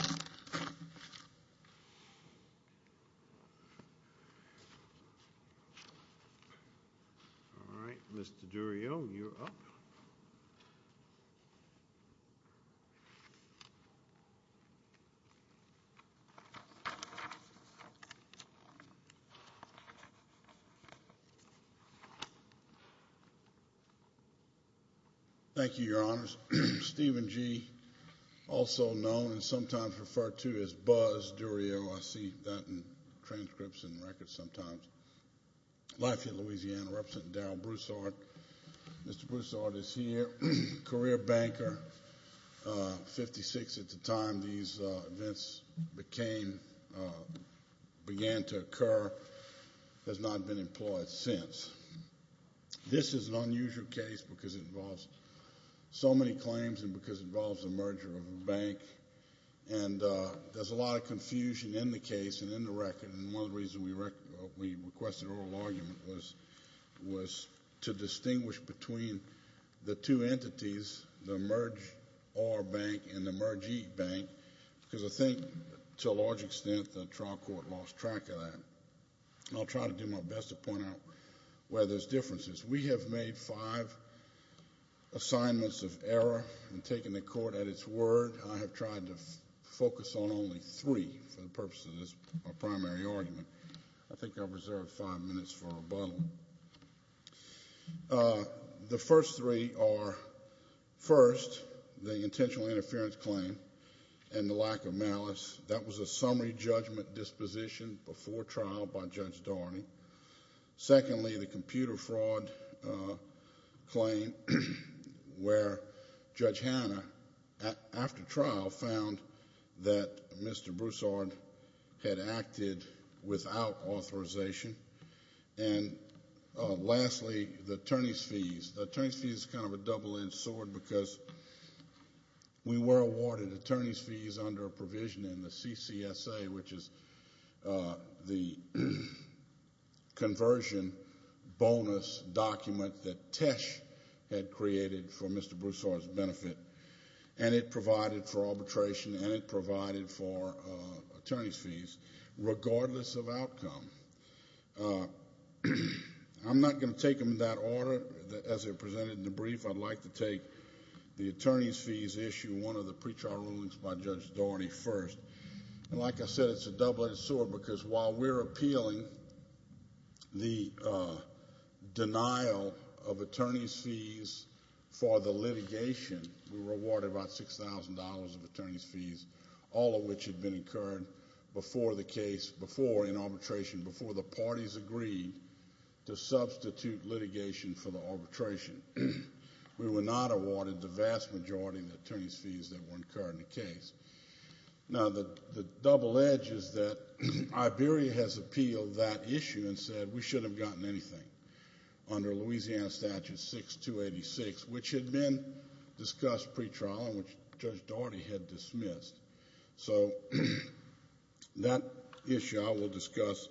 All right, Mr. Durio, you're up. Thank you, Your Honors. Stephen G., also known and sometimes referred to as Buzz Durio. I see that in transcripts and records sometimes. Life in Louisiana, Representative Darryl Broussard. Mr. Broussard is here. Career banker. Fifty-six at the time these events began to occur. Has not been employed since. This is an unusual case because it involves so many claims and because it involves a merger of a bank. And there's a lot of confusion in the case and in the record. And one of the reasons we requested oral argument was to distinguish between the two entities, the Merge R Bank and the Merge E Bank, because I think to a large extent the trial court lost track of that. I'll try to do my best to point out where there's differences. We have made five assignments of error in taking the court at its word. I have tried to focus on only three for the purpose of this primary argument. I think I've reserved five minutes for rebuttal. The first three are, first, the intentional interference claim and the lack of malice. That was a summary judgment disposition before trial by Judge Darney. Secondly, the computer fraud claim where Judge Hanna, after trial, found that Mr. Broussard had acted without authorization. And lastly, the attorney's fees. The attorney's fees is kind of a double-edged sword because we were awarded attorney's fees under a provision in the CCSA, which is the conversion bonus document that TESH had created for Mr. Broussard's benefit, and it provided for arbitration and it provided for attorney's fees, regardless of outcome. I'm not going to take them in that order as they're presented in the brief. I'd like to take the attorney's fees issue and one of the pretrial rulings by Judge Darney first. And like I said, it's a double-edged sword because while we're appealing the denial of attorney's fees for the litigation, we were awarded about $6,000 of attorney's fees, all of which had been incurred before the case, before in arbitration, before the parties agreed to substitute litigation for the arbitration. We were not awarded the vast majority of the attorney's fees that were incurred in the case. Now, the double edge is that Iberia has appealed that issue and said we shouldn't have gotten anything under Louisiana Statute 6286, which had been discussed pretrial and which Judge Darney had dismissed. So that issue I will discuss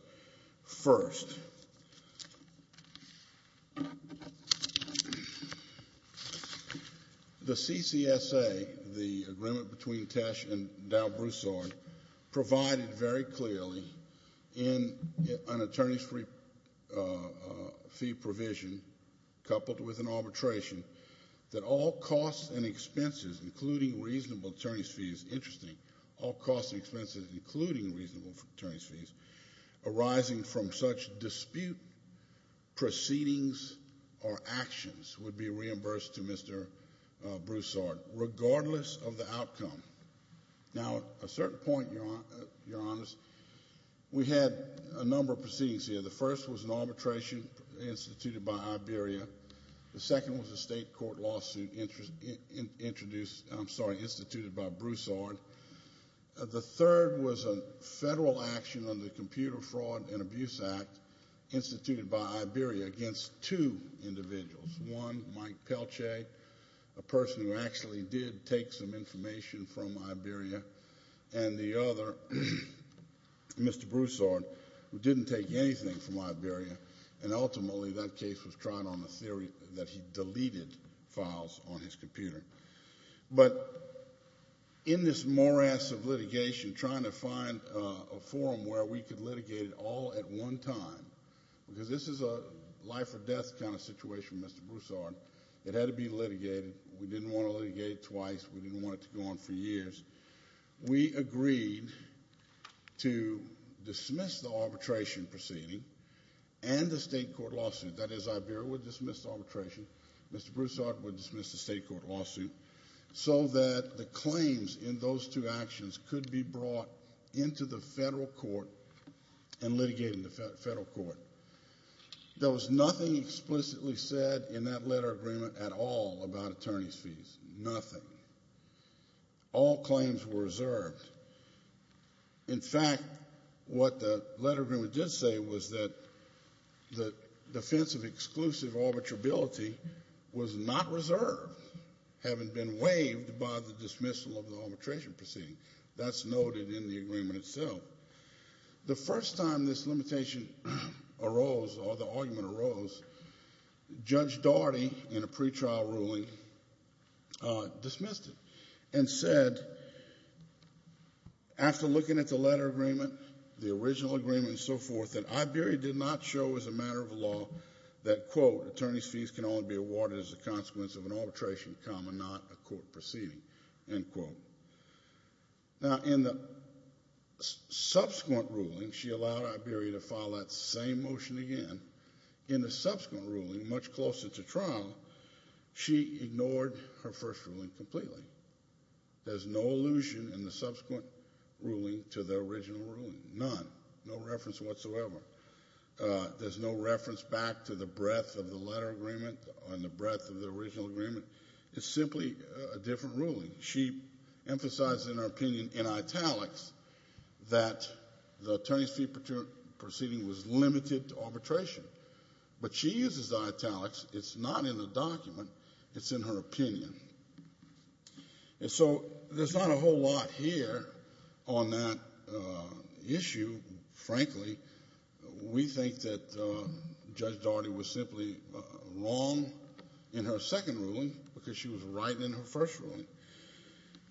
first. The CCSA, the agreement between Tesh and Dow Broussard, provided very clearly in an attorney's fee provision, coupled with an arbitration, that all costs and expenses, including reasonable attorney's fees, all costs and expenses, including reasonable attorney's fees, arising from such dispute, proceedings or actions would be reimbursed to Mr. Broussard, regardless of the outcome. Now, at a certain point, Your Honors, we had a number of proceedings here. The first was an arbitration instituted by Iberia. The second was a state court lawsuit introduced, I'm sorry, instituted by Broussard. The third was a federal action under the Computer Fraud and Abuse Act instituted by Iberia against two individuals. One, Mike Pelce, a person who actually did take some information from Iberia, and the other, Mr. Broussard, who didn't take anything from Iberia, and ultimately that case was tried on the theory that he deleted files on his computer. But in this morass of litigation, trying to find a forum where we could litigate it all at one time, because this is a life or death kind of situation, Mr. Broussard, it had to be litigated. We didn't want to litigate it twice. We didn't want it to go on for years. We agreed to dismiss the arbitration proceeding and the state court lawsuit, that is, Iberia would dismiss the arbitration, Mr. Broussard would dismiss the state court lawsuit, so that the claims in those two actions could be brought into the federal court and litigated in the federal court. There was nothing explicitly said in that letter of agreement at all about attorney's fees, nothing. All claims were reserved. In fact, what the letter of agreement did say was that the defense of exclusive arbitrability was not reserved, having been waived by the dismissal of the arbitration proceeding. That's noted in the agreement itself. The first time this limitation arose, or the argument arose, Judge Daugherty, in a pretrial ruling, dismissed it and said, after looking at the letter of agreement, the original agreement and so forth, that Iberia did not show as a matter of law that, quote, attorney's fees can only be awarded as a consequence of an arbitration, comma, not a court proceeding, end quote. Now, in the subsequent ruling, she allowed Iberia to file that same motion again. In the subsequent ruling, much closer to trial, she ignored her first ruling completely. There's no allusion in the subsequent ruling to the original ruling, none, no reference whatsoever. There's no reference back to the breadth of the letter of agreement or the breadth of the original agreement. It's simply a different ruling. She emphasized in her opinion, in italics, that the attorney's fee proceeding was limited to arbitration. But she uses italics. It's not in the document. It's in her opinion. And so there's not a whole lot here on that issue. Frankly, we think that Judge Daugherty was simply wrong in her second ruling because she was right in her first ruling.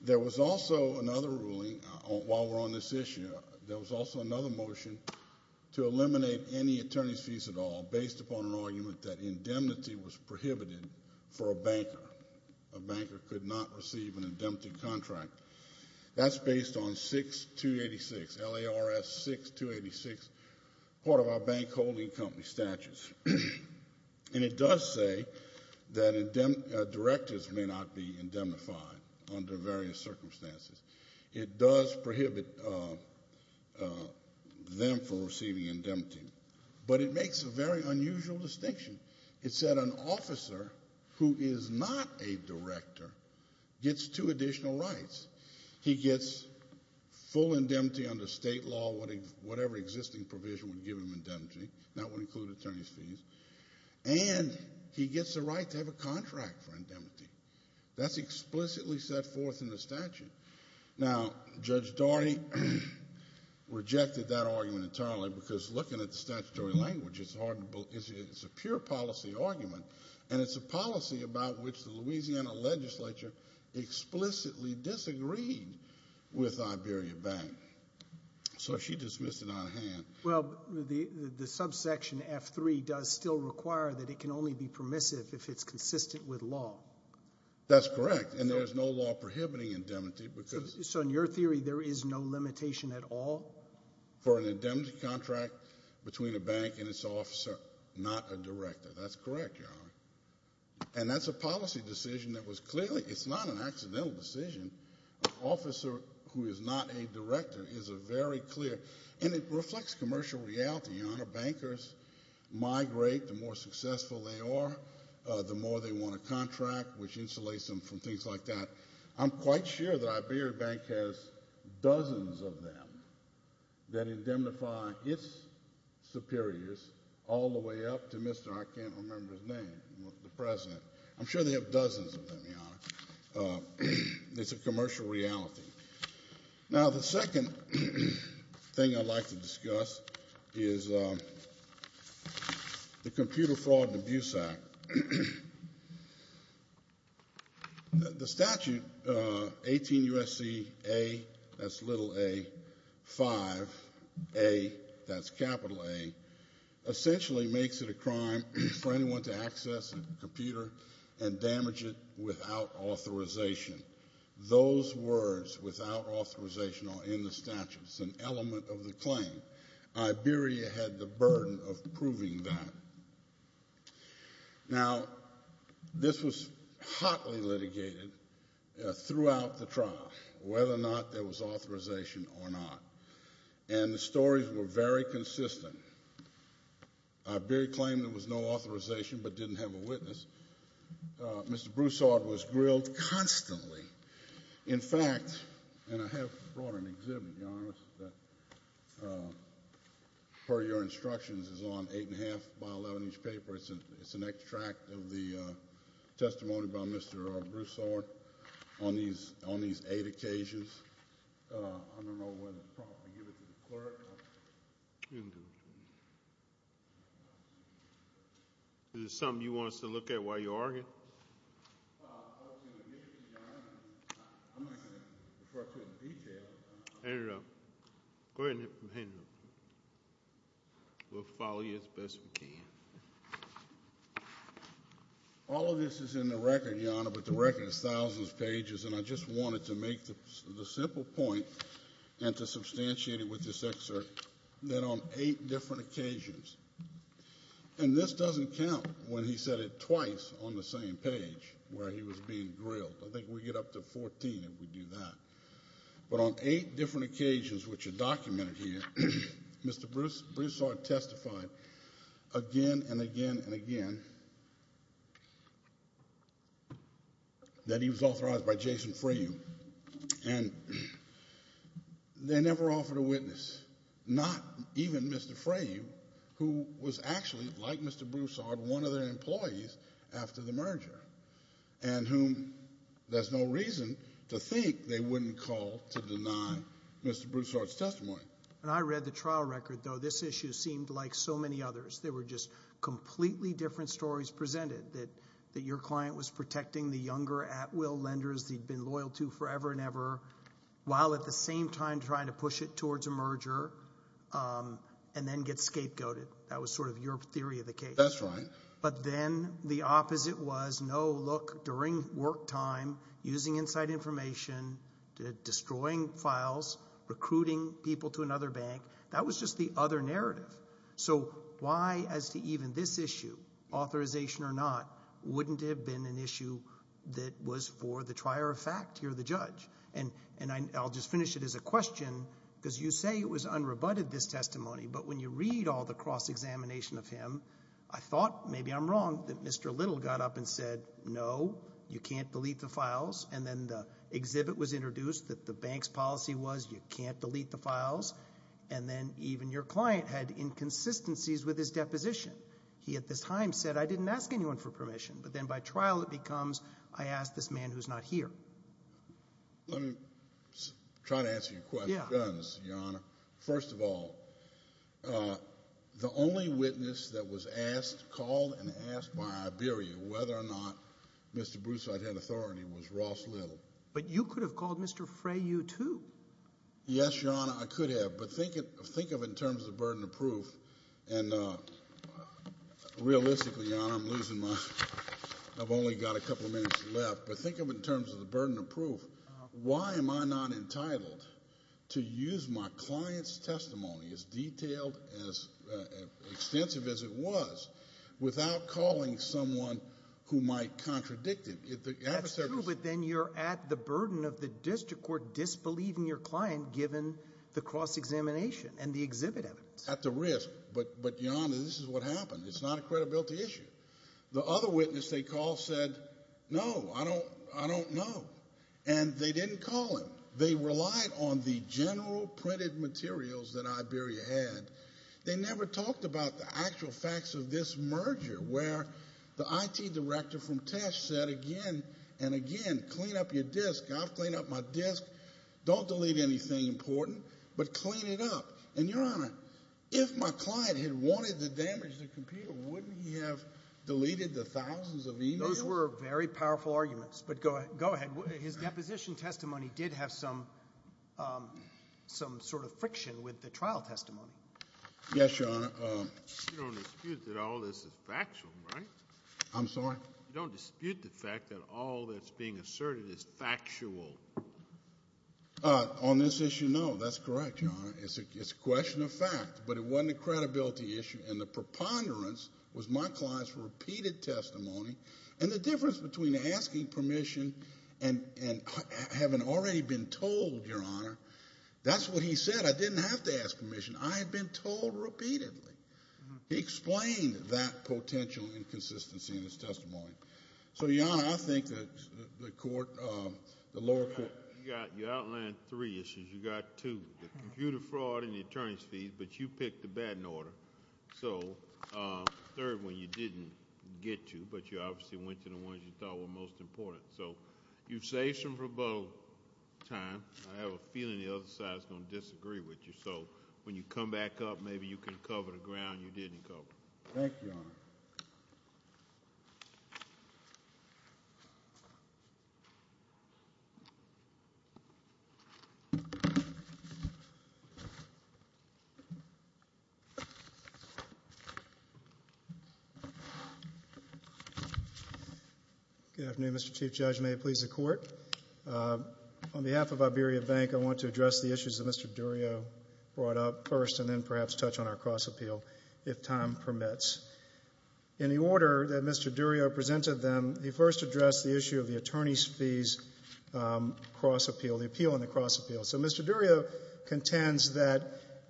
There was also another ruling, while we're on this issue, there was also another motion to eliminate any attorney's fees at all, based upon an argument that indemnity was prohibited for a banker. A banker could not receive an indemnity contract. That's based on 6286, LARS 6286, part of our bank holding company statutes. And it does say that directors may not be indemnified under various circumstances. It does prohibit them from receiving indemnity. But it makes a very unusual distinction. It said an officer who is not a director gets two additional rights. He gets full indemnity under state law, whatever existing provision would give him indemnity. That would include attorney's fees. And he gets the right to have a contract for indemnity. That's explicitly set forth in the statute. Now, Judge Daugherty rejected that argument entirely because looking at the statutory language, it's a pure policy argument, and it's a policy about which the Louisiana legislature explicitly disagreed with Iberia Bank. So she dismissed it out of hand. Well, the subsection F3 does still require that it can only be permissive if it's consistent with law. That's correct, and there's no law prohibiting indemnity. So in your theory, there is no limitation at all? For an indemnity contract between a bank and its officer, not a director. That's correct, Your Honor. And that's a policy decision that was clearly ‑‑ it's not an accidental decision. An officer who is not a director is a very clear ‑‑ and it reflects commercial reality, Your Honor. Bankers migrate the more successful they are, the more they want a contract, which insulates them from things like that. I'm quite sure that Iberia Bank has dozens of them that indemnify its superiors all the way up to Mr. I can't remember his name, the president. I'm sure they have dozens of them, Your Honor. It's a commercial reality. Now, the second thing I'd like to discuss is the Computer Fraud and Abuse Act. The statute, 18 U.S.C. A, that's little A, 5A, that's capital A, essentially makes it a crime for anyone to access a computer and damage it without authorization. Those words, without authorization, are in the statute. It's an element of the claim. Iberia had the burden of proving that. Now, this was hotly litigated throughout the trial, whether or not there was authorization or not. And the stories were very consistent. Iberia claimed there was no authorization but didn't have a witness. Mr. Broussard was grilled constantly. In fact, and I have brought an exhibit, Your Honor, that, per your instructions, is on 8 1⁄2 by 11-inch paper. It's an extract of the testimony by Mr. Broussard on these eight occasions. I don't know whether to promptly give it to the clerk. You can give it to me. Is there something you want us to look at while you're arguing? Hand it over. Go ahead and hand it over. We'll follow you as best we can. All of this is in the record, Your Honor, but the record is thousands of pages, and I just wanted to make the simple point and to substantiate it with this excerpt that on eight different occasions, and this doesn't count when he said it twice on the same page where he was being grilled. I think we get up to 14 if we do that. But on eight different occasions, which are documented here, Mr. Broussard testified again and again and again that he was authorized by Jason Fraim, and they never offered a witness, not even Mr. Fraim, who was actually, like Mr. Broussard, one of their employees after the merger, and whom there's no reason to think they wouldn't call to deny Mr. Broussard's testimony. When I read the trial record, though, this issue seemed like so many others. There were just completely different stories presented, that your client was protecting the younger at-will lenders he'd been loyal to forever and ever, while at the same time trying to push it towards a merger and then get scapegoated. That was sort of your theory of the case. That's right. But then the opposite was, no, look, during work time, using inside information, destroying files, recruiting people to another bank, that was just the other narrative. So why, as to even this issue, authorization or not, wouldn't it have been an issue that was for the trier of fact, you're the judge? And I'll just finish it as a question, because you say it was unrebutted, this testimony, but when you read all the cross-examination of him, I thought, maybe I'm wrong, that Mr. Little got up and said, no, you can't delete the files, and then the exhibit was introduced that the bank's policy was you can't delete the files, and then even your client had inconsistencies with his deposition. He at this time said, I didn't ask anyone for permission, but then by trial it becomes, I asked this man who's not here. Let me try to answer your question, Your Honor. First of all, the only witness that was asked, called and asked by Iberia, whether or not Mr. Broussard had authority, was Ross Little. But you could have called Mr. Frey, you too. Yes, Your Honor, I could have, but think of it in terms of the burden of proof, and realistically, Your Honor, I'm losing my, I've only got a couple of minutes left, but think of it in terms of the burden of proof. Why am I not entitled to use my client's testimony, as detailed, as extensive as it was, without calling someone who might contradict it? That's true, but then you're at the burden of the district court disbelieving your client, given the cross-examination and the exhibit evidence. At the risk, but Your Honor, this is what happened. It's not a credibility issue. The other witness they called said, no, I don't know, and they didn't call him. They relied on the general printed materials that Iberia had. They never talked about the actual facts of this merger, where the IT director from Tesh said again and again, clean up your disk. I've cleaned up my disk. Don't delete anything important, but clean it up. And Your Honor, if my client had wanted to damage the computer, wouldn't he have deleted the thousands of emails? Those were very powerful arguments, but go ahead. Your Honor, his deposition testimony did have some sort of friction with the trial testimony. Yes, Your Honor. You don't dispute that all this is factual, right? I'm sorry? You don't dispute the fact that all that's being asserted is factual? On this issue, no, that's correct, Your Honor. It's a question of fact, but it wasn't a credibility issue, and the preponderance was my client's repeated testimony, and the difference between asking permission and having already been told, Your Honor, that's what he said. I didn't have to ask permission. I had been told repeatedly. He explained that potential inconsistency in his testimony. So, Your Honor, I think that the lower court. You outlined three issues. You got two, the computer fraud and the attorney's fees, but you picked the bad in order. So, third one you didn't get to, but you obviously went to the ones you thought were most important. So, you've saved some rebuttal time. I have a feeling the other side is going to disagree with you. So, when you come back up, maybe you can cover the ground you didn't cover. Thank you, Your Honor. Good afternoon, Mr. Chief Judge. May it please the Court. On behalf of Iberia Bank, I want to address the issues that Mr. Durio brought up first and then perhaps touch on our cross appeal, if time permits. In the order that Mr. Durio presented them, he first addressed the issue of the attorney's fees cross appeal, the appeal on the cross appeal. So, Mr. Durio contends that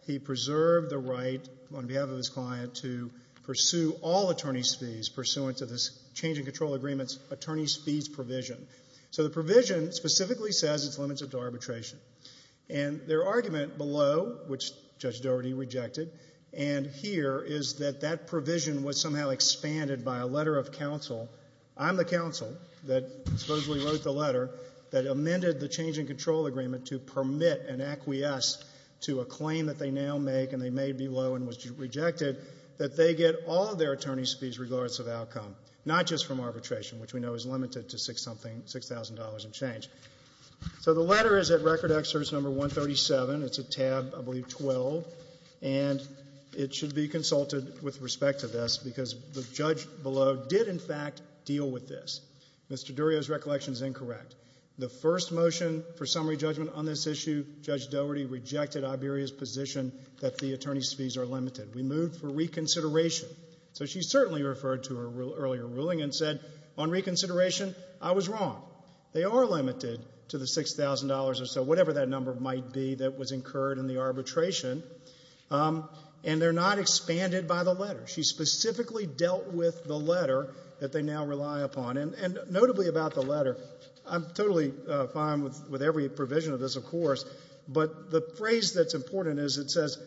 he preserved the right, on behalf of his client, to pursue all attorney's fees pursuant to this change in control agreement's attorney's fees provision. So, the provision specifically says it's limited to arbitration. And their argument below, which Judge Doherty rejected, and here is that that provision was somehow expanded by a letter of counsel. I'm the counsel that supposedly wrote the letter that amended the change in control agreement to permit an acquiesce to a claim that they now make, and they may be low and was rejected, that they get all of their attorney's fees regardless of outcome, not just from arbitration, which we know is limited to $6,000 and change. So, the letter is at record excerpt number 137. It's at tab, I believe, 12, and it should be consulted with respect to this because the judge below did, in fact, deal with this. Mr. Durio's recollection is incorrect. The first motion for summary judgment on this issue, Judge Doherty rejected Iberia's position that the attorney's fees are limited. We moved for reconsideration. So, she certainly referred to her earlier ruling and said, on reconsideration, I was wrong. They are limited to the $6,000 or so, whatever that number might be that was incurred in the arbitration, and they're not expanded by the letter. She specifically dealt with the letter that they now rely upon. And notably about the letter, I'm totally fine with every provision of this, of course, but the phrase that's important is it says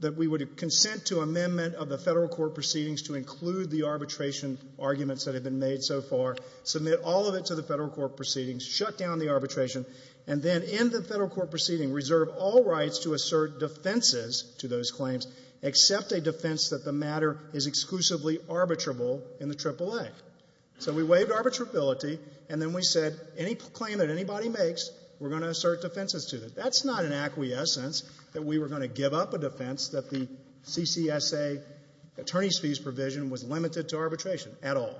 that we would consent to amendment of the Federal court proceedings to include the arbitration arguments that have been made so far, submit all of it to the Federal court proceedings, shut down the arbitration, and then in the Federal court proceeding reserve all rights to assert defenses to those claims except a defense that the matter is exclusively arbitrable in the AAA. So, we waived arbitrability, and then we said any claim that anybody makes, we're going to assert defenses to it. That's not an acquiescence that we were going to give up a defense that the CCSA attorney's fees provision was limited to arbitration at all.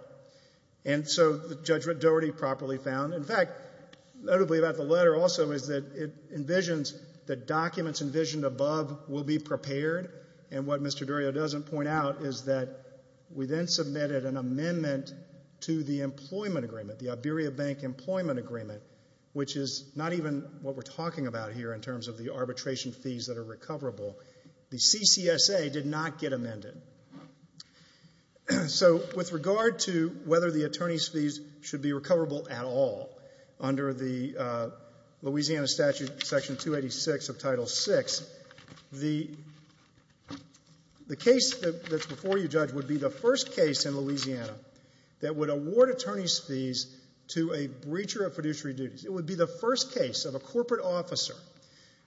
And so, Judge Doherty properly found, in fact, notably about the letter also, is that it envisions that documents envisioned above will be prepared, and what Mr. Durrio doesn't point out is that we then submitted an amendment to the employment agreement, the Iberia Bank Employment Agreement, which is not even what we're talking about here in terms of the arbitration fees that are recoverable. The CCSA did not get amended. So, with regard to whether the attorney's fees should be recoverable at all under the Louisiana Statute Section 286 of Title VI, the case that's before you, Judge, would be the first case in Louisiana that would award attorney's fees to a breacher of fiduciary duties. It would be the first case of a corporate officer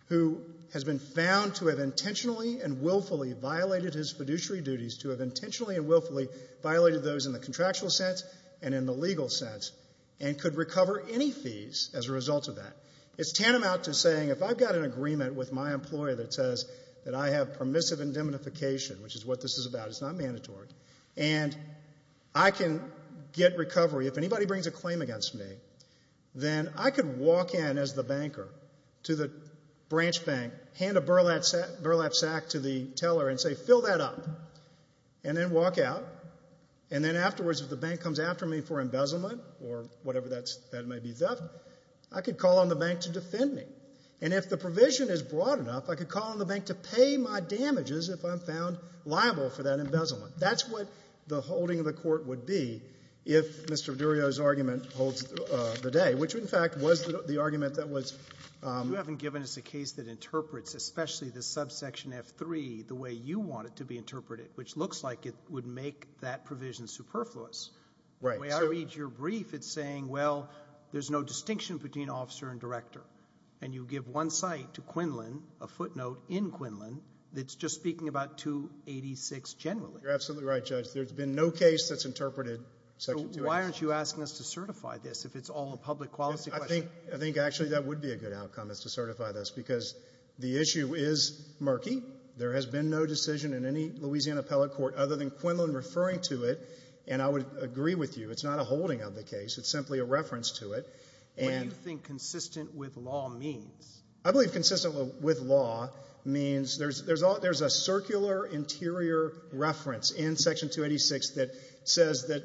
who has been found to have intentionally and willfully violated his fiduciary duties, to have intentionally and willfully violated those duties in the contractual sense and in the legal sense, and could recover any fees as a result of that. It's tantamount to saying, if I've got an agreement with my employer that says that I have permissive indemnification, which is what this is about, it's not mandatory, and I can get recovery, if anybody brings a claim against me, then I could walk in as the banker to the branch bank, hand a burlap sack to the teller and say, fill that up, and then walk out, and then afterwards if the bank comes after me for embezzlement or whatever that may be theft, I could call on the bank to defend me, and if the provision is broad enough, I could call on the bank to pay my damages if I'm found liable for that embezzlement. That's what the holding of the court would be if Mr. Durio's argument holds the day, which in fact was the argument that was... You haven't given us a case that interprets, especially the subsection F3, the way you want it to be interpreted, which looks like it would make that provision superfluous. Right. The way I read your brief, it's saying, well, there's no distinction between officer and director, and you give one site to Quinlan, a footnote in Quinlan, that's just speaking about 286 generally. You're absolutely right, Judge. There's been no case that's interpreted... So why aren't you asking us to certify this if it's all a public policy question? I think actually that would be a good outcome, is to certify this, because the issue is murky. There has been no decision in any Louisiana appellate court other than Quinlan referring to it, and I would agree with you. It's not a holding of the case. It's simply a reference to it. What do you think consistent with law means? I believe consistent with law means there's a circular interior reference in Section 286 that says that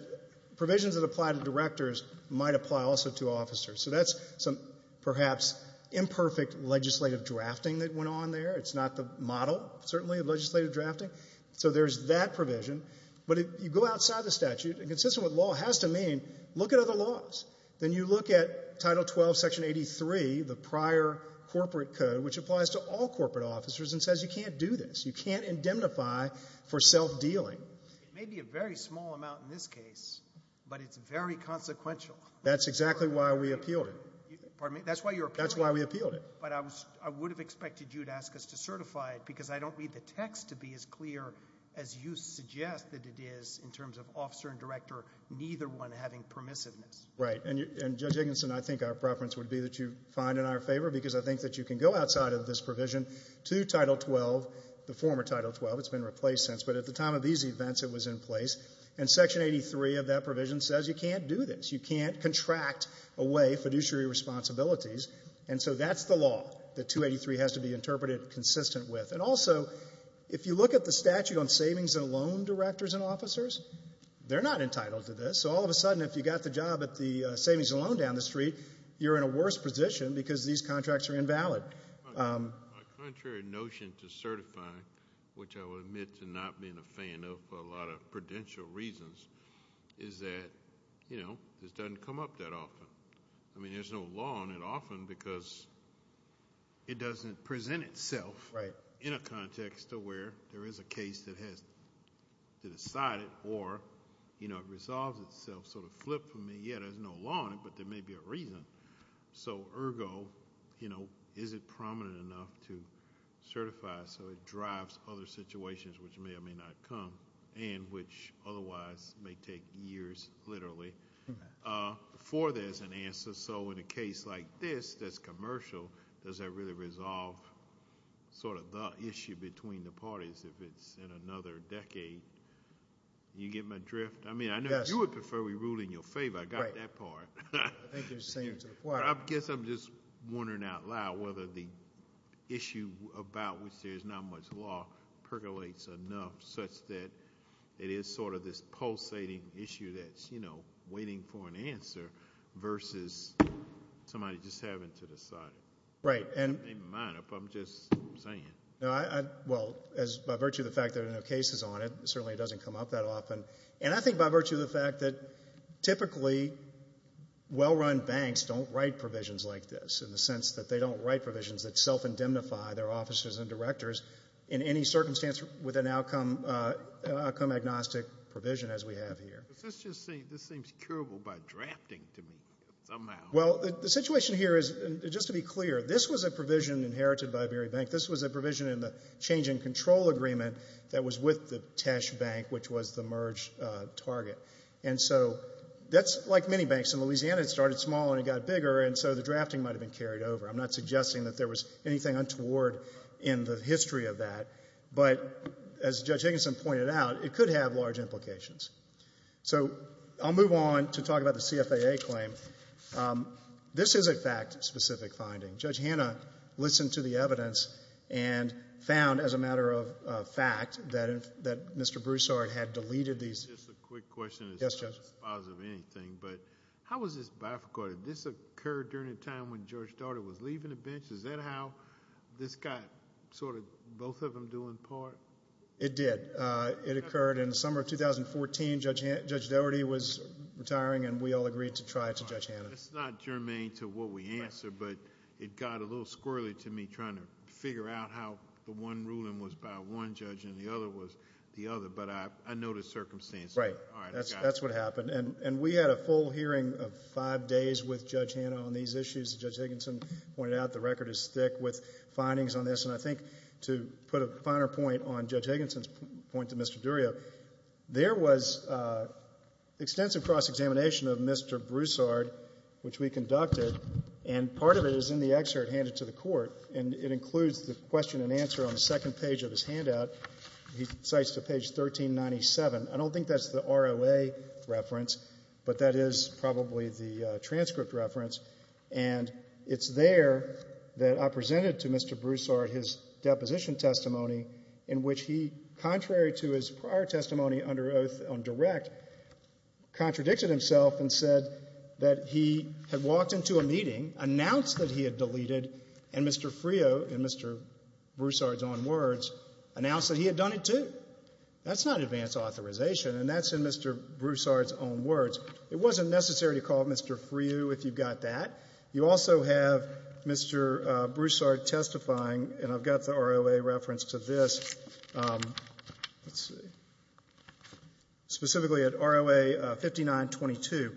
provisions that apply to directors might apply also to officers. So that's some perhaps imperfect legislative drafting that went on there. It's not the model, certainly, of legislative drafting. So there's that provision. But if you go outside the statute, consistent with law has to mean look at other laws. Then you look at Title 12, Section 83, the prior corporate code, which applies to all corporate officers and says you can't do this. You can't indemnify for self-dealing. It may be a very small amount in this case, but it's very consequential. That's exactly why we appealed it. Pardon me? That's why you appealed it? That's why we appealed it. But I would have expected you to ask us to certify it because I don't read the text to be as clear as you suggest that it is in terms of officer and director, neither one having permissiveness. Right. And, Judge Higginson, I think our preference would be that you find in our favor because I think that you can go outside of this provision to Title 12, the former Title 12. It's been replaced since. But at the time of these events, it was in place. And Section 83 of that provision says you can't do this. You can't contract away fiduciary responsibilities. And so that's the law that 283 has to be interpreted consistent with. And also, if you look at the statute on savings and loan directors and officers, they're not entitled to this. So all of a sudden, if you got the job at the savings and loan down the street, you're in a worse position because these contracts are invalid. My contrary notion to certifying, which I will admit to not being a fan of for a lot of prudential reasons, is that, you know, this doesn't come up that often. I mean, there's no law on it often because it doesn't present itself in a context to where there is a case that has to decide it or, you know, it resolves itself. So to flip for me, yeah, there's no law on it, but there may be a reason. So, ergo, you know, is it prominent enough to certify so it drives other situations which may or may not come and which otherwise may take years, literally, for this. That's an answer. So in a case like this that's commercial, does that really resolve sort of the issue between the parties if it's in another decade? You get my drift? Yes. I mean, I know you would prefer we rule in your favor. I got that part. Right. I think you're saying it to the choir. I guess I'm just wondering out loud whether the issue about which there's not much law percolates enough such that it is sort of this pulsating issue that's, you know, versus somebody just having to decide. Right. It may be minor, but I'm just saying. Well, by virtue of the fact that there are no cases on it, certainly it doesn't come up that often. And I think by virtue of the fact that typically well-run banks don't write provisions like this in the sense that they don't write provisions that self-indemnify their officers and directors in any circumstance with an outcome agnostic provision as we have here. This seems curable by drafting to me somehow. Well, the situation here is, just to be clear, this was a provision inherited by Berry Bank. This was a provision in the change in control agreement that was with the Tesh Bank, which was the merge target. And so that's like many banks. In Louisiana, it started small and it got bigger, and so the drafting might have been carried over. I'm not suggesting that there was anything untoward in the history of that. But as Judge Higginson pointed out, it could have large implications. So I'll move on to talk about the CFAA claim. This is a fact-specific finding. Judge Hanna listened to the evidence and found, as a matter of fact, that Mr. Broussard had deleted these. Just a quick question. Yes, Judge. It's not supposed to be anything, but how was this bifurcated? This occurred during the time when Judge Daugherty was leaving the bench? Is that how this got sort of both of them doing part? It did. It occurred in the summer of 2014. Judge Daugherty was retiring, and we all agreed to try it to Judge Hanna. That's not germane to what we answer, but it got a little squirrely to me trying to figure out how the one ruling was by one judge and the other was the other. But I know the circumstances. Right. That's what happened. And we had a full hearing of five days with Judge Hanna on these issues. As Judge Higginson pointed out, the record is thick with findings on this. And I think to put a finer point on Judge Higginson's point to Mr. Durio, there was extensive cross-examination of Mr. Broussard, which we conducted. And part of it is in the excerpt handed to the Court, and it includes the question and answer on the second page of his handout. He cites to page 1397. I don't think that's the ROA reference, but that is probably the transcript reference. And it's there that I presented to Mr. Broussard his deposition testimony in which he, contrary to his prior testimony under oath on direct, contradicted himself and said that he had walked into a meeting, announced that he had deleted, and Mr. Frio, in Mr. Broussard's own words, announced that he had done it too. That's not advance authorization, and that's in Mr. Broussard's own words. It wasn't necessary to call Mr. Frio if you've got that. You also have Mr. Broussard testifying, and I've got the ROA reference to this. Specifically at ROA 5922,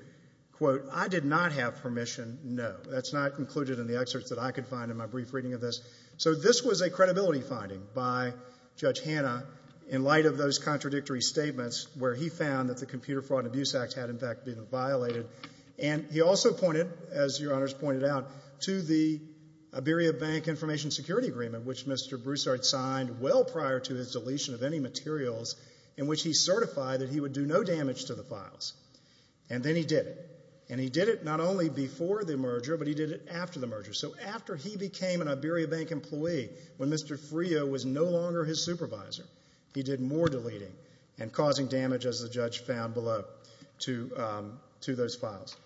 quote, I did not have permission, no. That's not included in the excerpt that I could find in my brief reading of this. So this was a credibility finding by Judge Hanna in light of those contradictory statements where he found that the Computer Fraud and Abuse Act had, in fact, been violated. And he also pointed, as Your Honors pointed out, to the Iberia Bank Information Security Agreement, which Mr. Broussard signed well prior to his deletion of any materials in which he certified that he would do no damage to the files, and then he did it. And he did it not only before the merger, but he did it after the merger. So after he became an Iberia Bank employee, when Mr. Frio was no longer his supervisor, he did more deleting and causing damage, as the judge found below, to those files.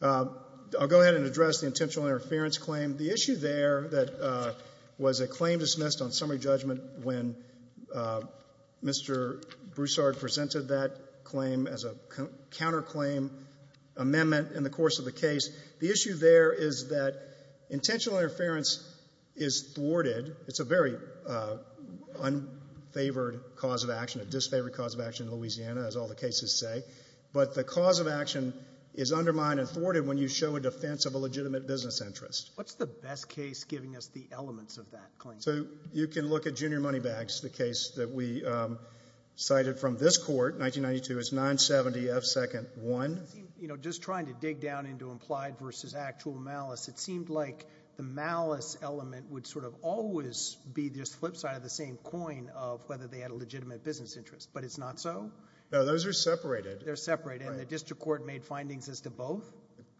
I'll go ahead and address the intentional interference claim. The issue there that was a claim dismissed on summary judgment when Mr. Broussard presented that claim as a counterclaim amendment in the course of the case, the issue there is that intentional interference is thwarted. It's a very unfavored cause of action, a disfavored cause of action in Louisiana, as all the cases say. But the cause of action is undermined and thwarted when you show a defense of a legitimate business interest. What's the best case giving us the elements of that claim? So you can look at Junior Moneybags, the case that we cited from this court, 1992. It's 970F2-1. You know, just trying to dig down into implied versus actual malice, it seemed like the malice element would sort of always be this flip side of the same coin of whether they had a legitimate business interest, but it's not so? No, those are separated. They're separated, and the district court made findings as to both?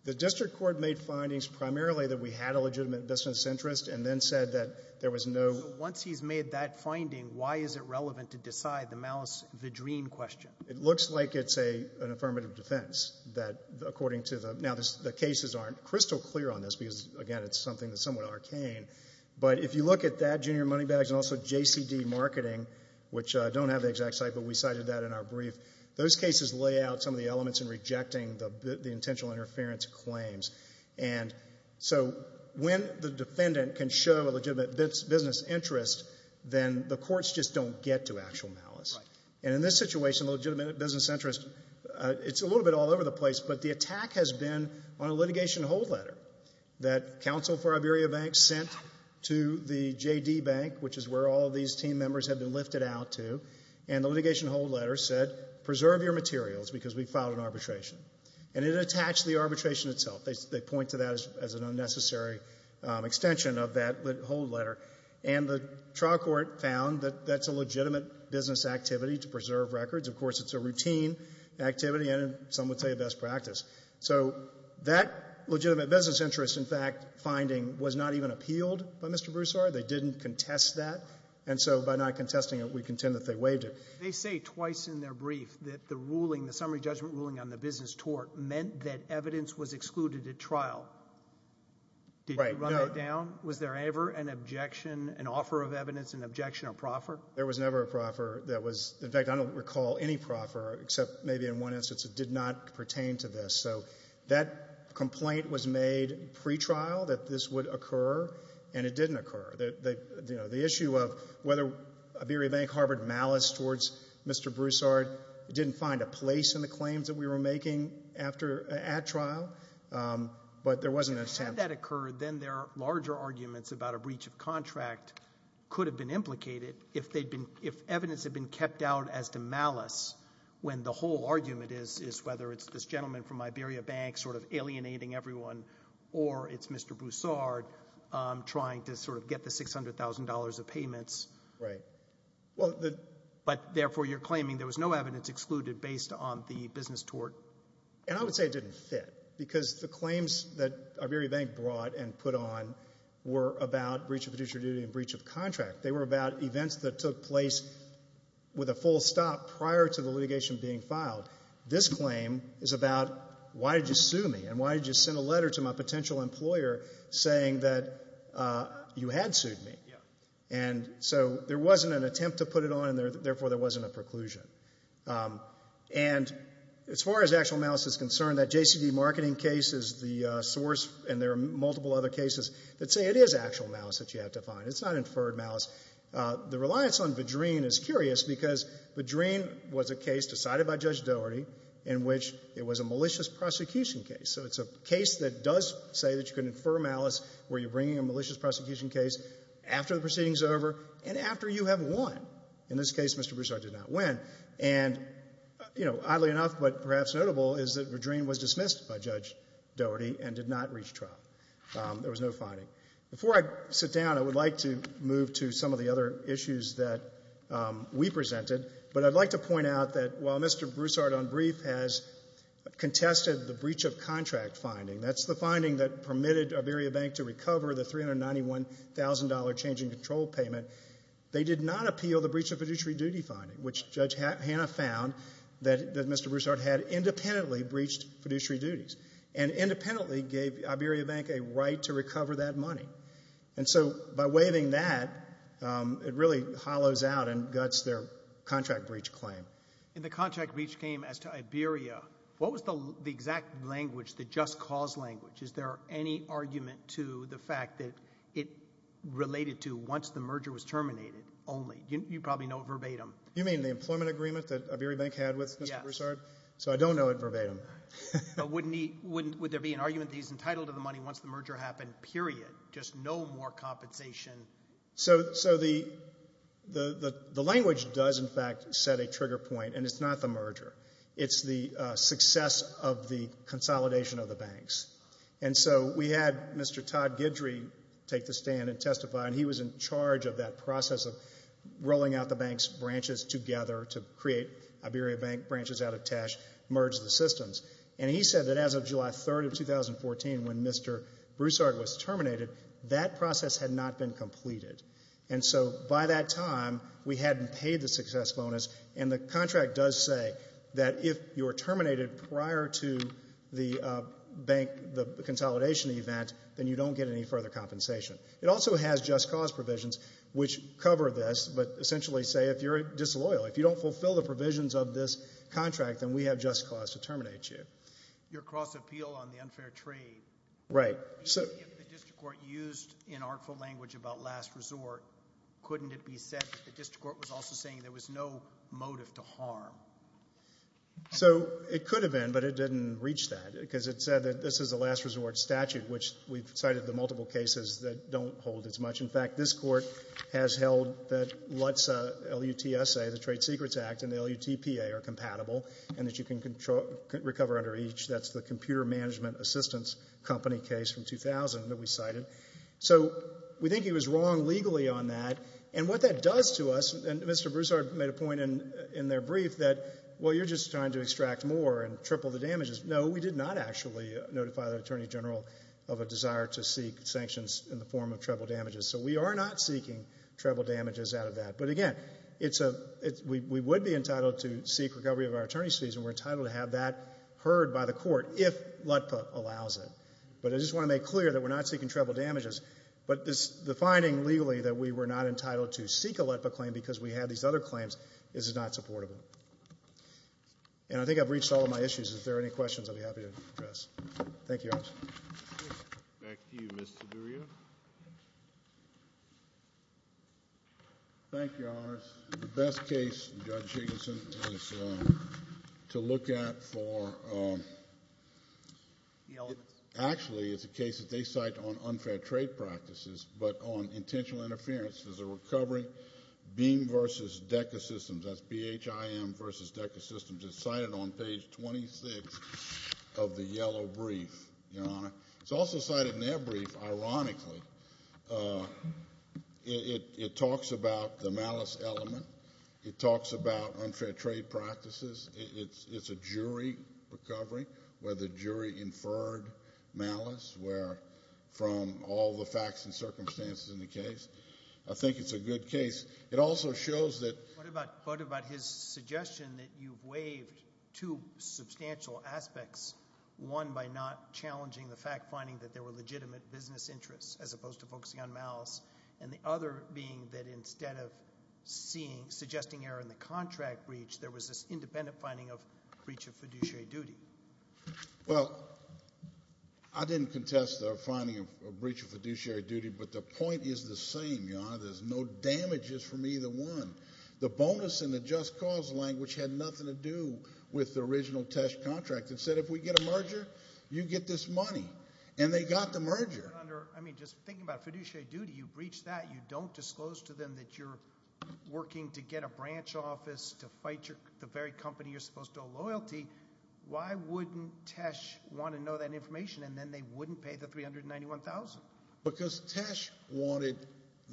The district court made findings primarily that we had a legitimate business interest and then said that there was no— So once he's made that finding, why is it relevant to decide the malice-vadrine question? It looks like it's an affirmative defense that, according to the— because, again, it's something that's somewhat arcane. But if you look at that, Junior Moneybags, and also JCD Marketing, which don't have the exact site, but we cited that in our brief, those cases lay out some of the elements in rejecting the intentional interference claims. And so when the defendant can show a legitimate business interest, then the courts just don't get to actual malice. And in this situation, legitimate business interest, it's a little bit all over the place, but the attack has been on a litigation hold letter that Counsel for Iberia Bank sent to the JD Bank, which is where all of these team members have been lifted out to. And the litigation hold letter said, Preserve your materials because we filed an arbitration. And it attached the arbitration itself. They point to that as an unnecessary extension of that hold letter. And the trial court found that that's a legitimate business activity to preserve records. Of course, it's a routine activity and, some would say, a best practice. So that legitimate business interest, in fact, finding, was not even appealed by Mr. Broussard. They didn't contest that. And so by not contesting it, we contend that they waived it. They say twice in their brief that the ruling, the summary judgment ruling on the business tort, meant that evidence was excluded at trial. Did you run that down? Was there ever an objection, an offer of evidence, an objection or proffer? There was never a proffer. In fact, I don't recall any proffer, except maybe in one instance it did not pertain to this. So that complaint was made pretrial that this would occur, and it didn't occur. The issue of whether Iberia Bank harbored malice towards Mr. Broussard, it didn't find a place in the claims that we were making at trial, but there wasn't an attempt. Had that occurred, then their larger arguments about a breach of contract could have been implicated if evidence had been kept out as to malice when the whole argument is whether it's this gentleman from Iberia Bank sort of alienating everyone or it's Mr. Broussard trying to sort of get the $600,000 of payments. Right. But therefore you're claiming there was no evidence excluded based on the business tort. And I would say it didn't fit because the claims that Iberia Bank brought and put on were about breach of fiduciary duty and breach of contract. They were about events that took place with a full stop prior to the litigation being filed. This claim is about why did you sue me and why did you send a letter to my potential employer saying that you had sued me. Yeah. And so there wasn't an attempt to put it on, and therefore there wasn't a preclusion. And as far as actual malice is concerned, that JCD marketing case is the source, and there are multiple other cases that say it is actual malice that you have to find. It's not inferred malice. The reliance on Vadreen is curious because Vadreen was a case decided by Judge Doherty in which it was a malicious prosecution case. So it's a case that does say that you can infer malice where you're bringing a malicious prosecution case after the proceeding is over and after you have won. In this case, Mr. Broussard did not win. And, you know, oddly enough but perhaps notable is that Vadreen was dismissed by Judge Doherty and did not reach trial. There was no finding. Before I sit down, I would like to move to some of the other issues that we presented. But I'd like to point out that while Mr. Broussard on brief has contested the breach of contract finding, that's the finding that permitted Iberia Bank to recover the $391,000 change in control payment, they did not appeal the breach of fiduciary duty finding, which Judge Hanna found that Mr. Broussard had independently breached fiduciary duties and independently gave Iberia Bank a right to recover that money. And so by waiving that, it really hollows out and guts their contract breach claim. And the contract breach came as to Iberia. What was the exact language, the just cause language? Is there any argument to the fact that it related to once the merger was terminated only? You probably know it verbatim. You mean the employment agreement that Iberia Bank had with Mr. Broussard? Yes. So I don't know it verbatim. Would there be an argument that he's entitled to the money once the merger happened, period, just no more compensation? So the language does, in fact, set a trigger point, and it's not the merger. It's the success of the consolidation of the banks. And so we had Mr. Todd Guidry take the stand and testify, and he was in charge of that process of rolling out the bank's branches together to create Iberia Bank branches out of cash, merge the systems. And he said that as of July 3rd of 2014, when Mr. Broussard was terminated, that process had not been completed. And so by that time, we hadn't paid the success bonus, and the contract does say that if you're terminated prior to the consolidation event, then you don't get any further compensation. It also has just cause provisions which cover this but essentially say if you're disloyal, if you don't fulfill the provisions of this contract, then we have just cause to terminate you. Your cross-appeal on the unfair trade. Right. If the district court used inartful language about last resort, couldn't it be said that the district court was also saying there was no motive to harm? So it could have been, but it didn't reach that because it said that this is a last resort statute, which we've cited the multiple cases that don't hold as much. In fact, this court has held that LUTSA, L-U-T-S-A, the Trade Secrets Act, and the L-U-T-P-A are compatible and that you can recover under each. That's the computer management assistance company case from 2000 that we cited. So we think he was wrong legally on that. And what that does to us, and Mr. Broussard made a point in their brief that, well, you're just trying to extract more and triple the damages. No, we did not actually notify the Attorney General of a desire to seek sanctions in the form of treble damages. So we are not seeking treble damages out of that. But again, we would be entitled to seek recovery of our attorney's fees and we're entitled to have that heard by the court if LUTPA allows it. But I just want to make clear that we're not seeking treble damages, but the finding legally that we were not entitled to seek a LUTPA claim because we have these other claims is not supportable. And I think I've reached all of my issues. Thank you, Your Honors. Back to you, Mr. Duryea. Thank you, Your Honors. The best case, Judge Jigginson, is to look at for the elements. Actually, it's a case that they cite on unfair trade practices, but on intentional interference as a recovery. Beam v. Deca Systems, that's B-H-I-M v. Deca Systems, is cited on page 26 of the yellow brief, Your Honor. It's also cited in their brief, ironically. It talks about the malice element. It talks about unfair trade practices. It's a jury recovery where the jury inferred malice from all the facts and circumstances in the case. I think it's a good case. It also shows that— I think it shaves two substantial aspects, one by not challenging the fact, finding that there were legitimate business interests as opposed to focusing on malice, and the other being that instead of suggesting error in the contract breach, there was this independent finding of breach of fiduciary duty. Well, I didn't contest their finding of breach of fiduciary duty, but the point is the same, Your Honor. There's no damages from either one. The bonus in the just cause language had nothing to do with the original Tesh contract. It said if we get a merger, you get this money, and they got the merger. Your Honor, I mean, just thinking about fiduciary duty, you breach that, you don't disclose to them that you're working to get a branch office to fight the very company you're supposed to owe loyalty. Why wouldn't Tesh want to know that information, and then they wouldn't pay the $391,000? Because Tesh wanted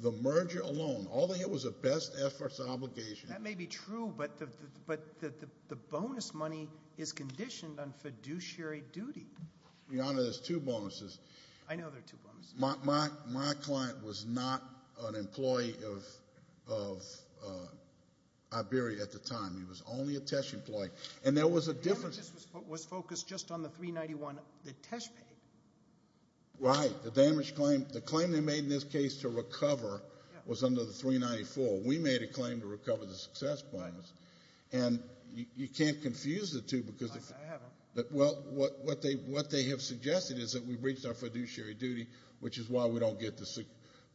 the merger alone. All they had was a best efforts obligation. That may be true, but the bonus money is conditioned on fiduciary duty. Your Honor, there's two bonuses. I know there are two bonuses. My client was not an employee of Iberia at the time. He was only a Tesh employee, and there was a difference. The damages was focused just on the $391,000 that Tesh paid. Right. The claim they made in this case to recover was under the $394,000. We made a claim to recover the success bonus, and you can't confuse the two. I haven't. Well, what they have suggested is that we breached our fiduciary duty, which is why we don't get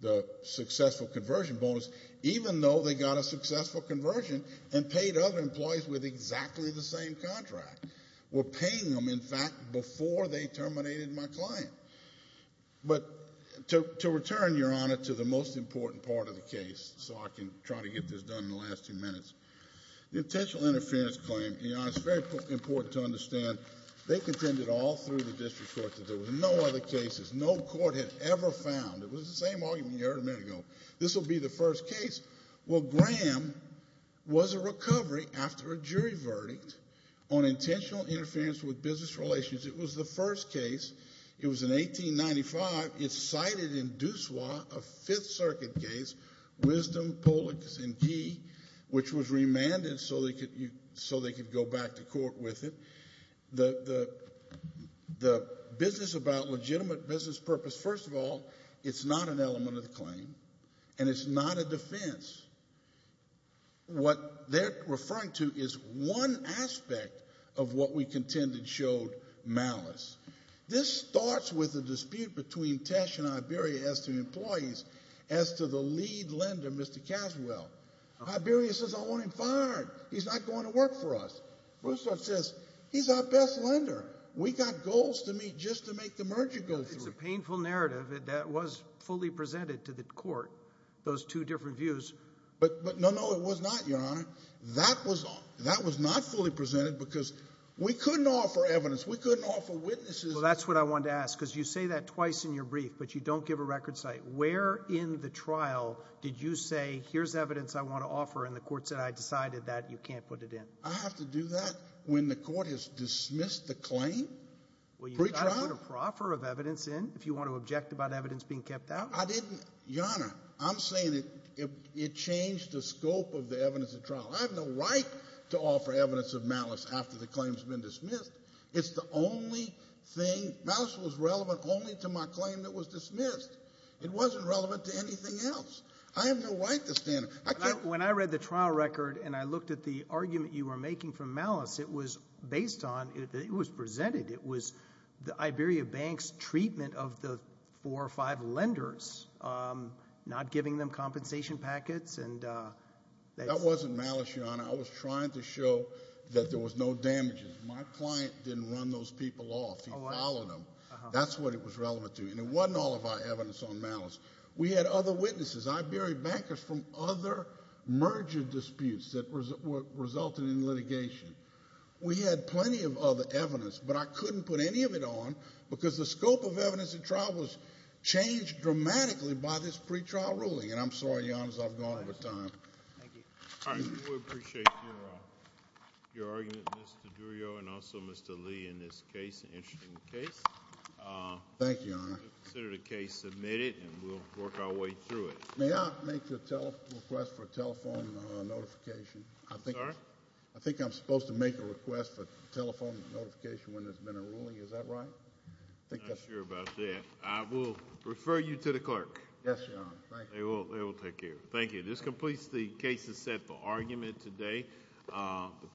the successful conversion bonus, even though they got a successful conversion and paid other employees with exactly the same contract. We're paying them, in fact, before they terminated my claim. But to return, Your Honor, to the most important part of the case so I can try to get this done in the last few minutes, the intentional interference claim, Your Honor, is very important to understand. They contended all through the district court that there were no other cases no court had ever found. It was the same argument you heard a minute ago. This will be the first case. Well, Graham was a recovery after a jury verdict on intentional interference with business relations. It was the first case. It was in 1895. It's cited in Douceau, a Fifth Circuit case, Wisdom, Pollock, and Gee, which was remanded so they could go back to court with it. The business about legitimate business purpose, first of all, it's not an element of the claim, and it's not a defense. What they're referring to is one aspect of what we contended showed malice. This starts with a dispute between Tesh and Iberia as to employees, as to the lead lender, Mr. Caswell. Iberia says, I want him fired. He's not going to work for us. Broussard says, He's our best lender. We got goals to meet just to make the merger go through. It's a painful narrative. That was fully presented to the court, those two different views. But no, no, it was not, Your Honor. That was not fully presented because we couldn't offer evidence. We couldn't offer witnesses. Well, that's what I wanted to ask, because you say that twice in your brief, but you don't give a record cite. Where in the trial did you say, Here's evidence I want to offer, and the court said, I decided that. You can't put it in. I have to do that when the court has dismissed the claim? Pre-trial? Well, you've got to put a proffer of evidence in if you want to object about evidence being kept out. I didn't, Your Honor. I'm saying it changed the scope of the evidence at trial. I have no right to offer evidence of malice after the claim has been dismissed. It's the only thing, malice was relevant only to my claim that was dismissed. It wasn't relevant to anything else. I have no right to stand up. When I read the trial record and I looked at the argument you were making for malice, it was based on, it was presented, it was the Iberia Bank's treatment of the four or five lenders, not giving them compensation packets. That wasn't malice, Your Honor. I was trying to show that there was no damages. My client didn't run those people off. He followed them. That's what it was relevant to. And it wasn't all of our evidence on malice. We had other witnesses. Iberia Bankers from other merger disputes that resulted in litigation. We had plenty of other evidence, but I couldn't put any of it on because the scope of evidence at trial was changed dramatically by this pre-trial ruling. And I'm sorry, Your Honor, as I've gone over time. Thank you. All right. We appreciate your argument, Mr. Durrio, and also Mr. Lee, in this case, an interesting case. Thank you, Your Honor. Consider the case submitted, and we'll work our way through it. May I make a request for a telephone notification? Sorry? I think I'm supposed to make a request for a telephone notification when there's been a ruling. Is that right? I'm not sure about that. I will refer you to the clerk. Yes, Your Honor. Thank you. They will take care of it. Thank you. This completes the cases set for argument today.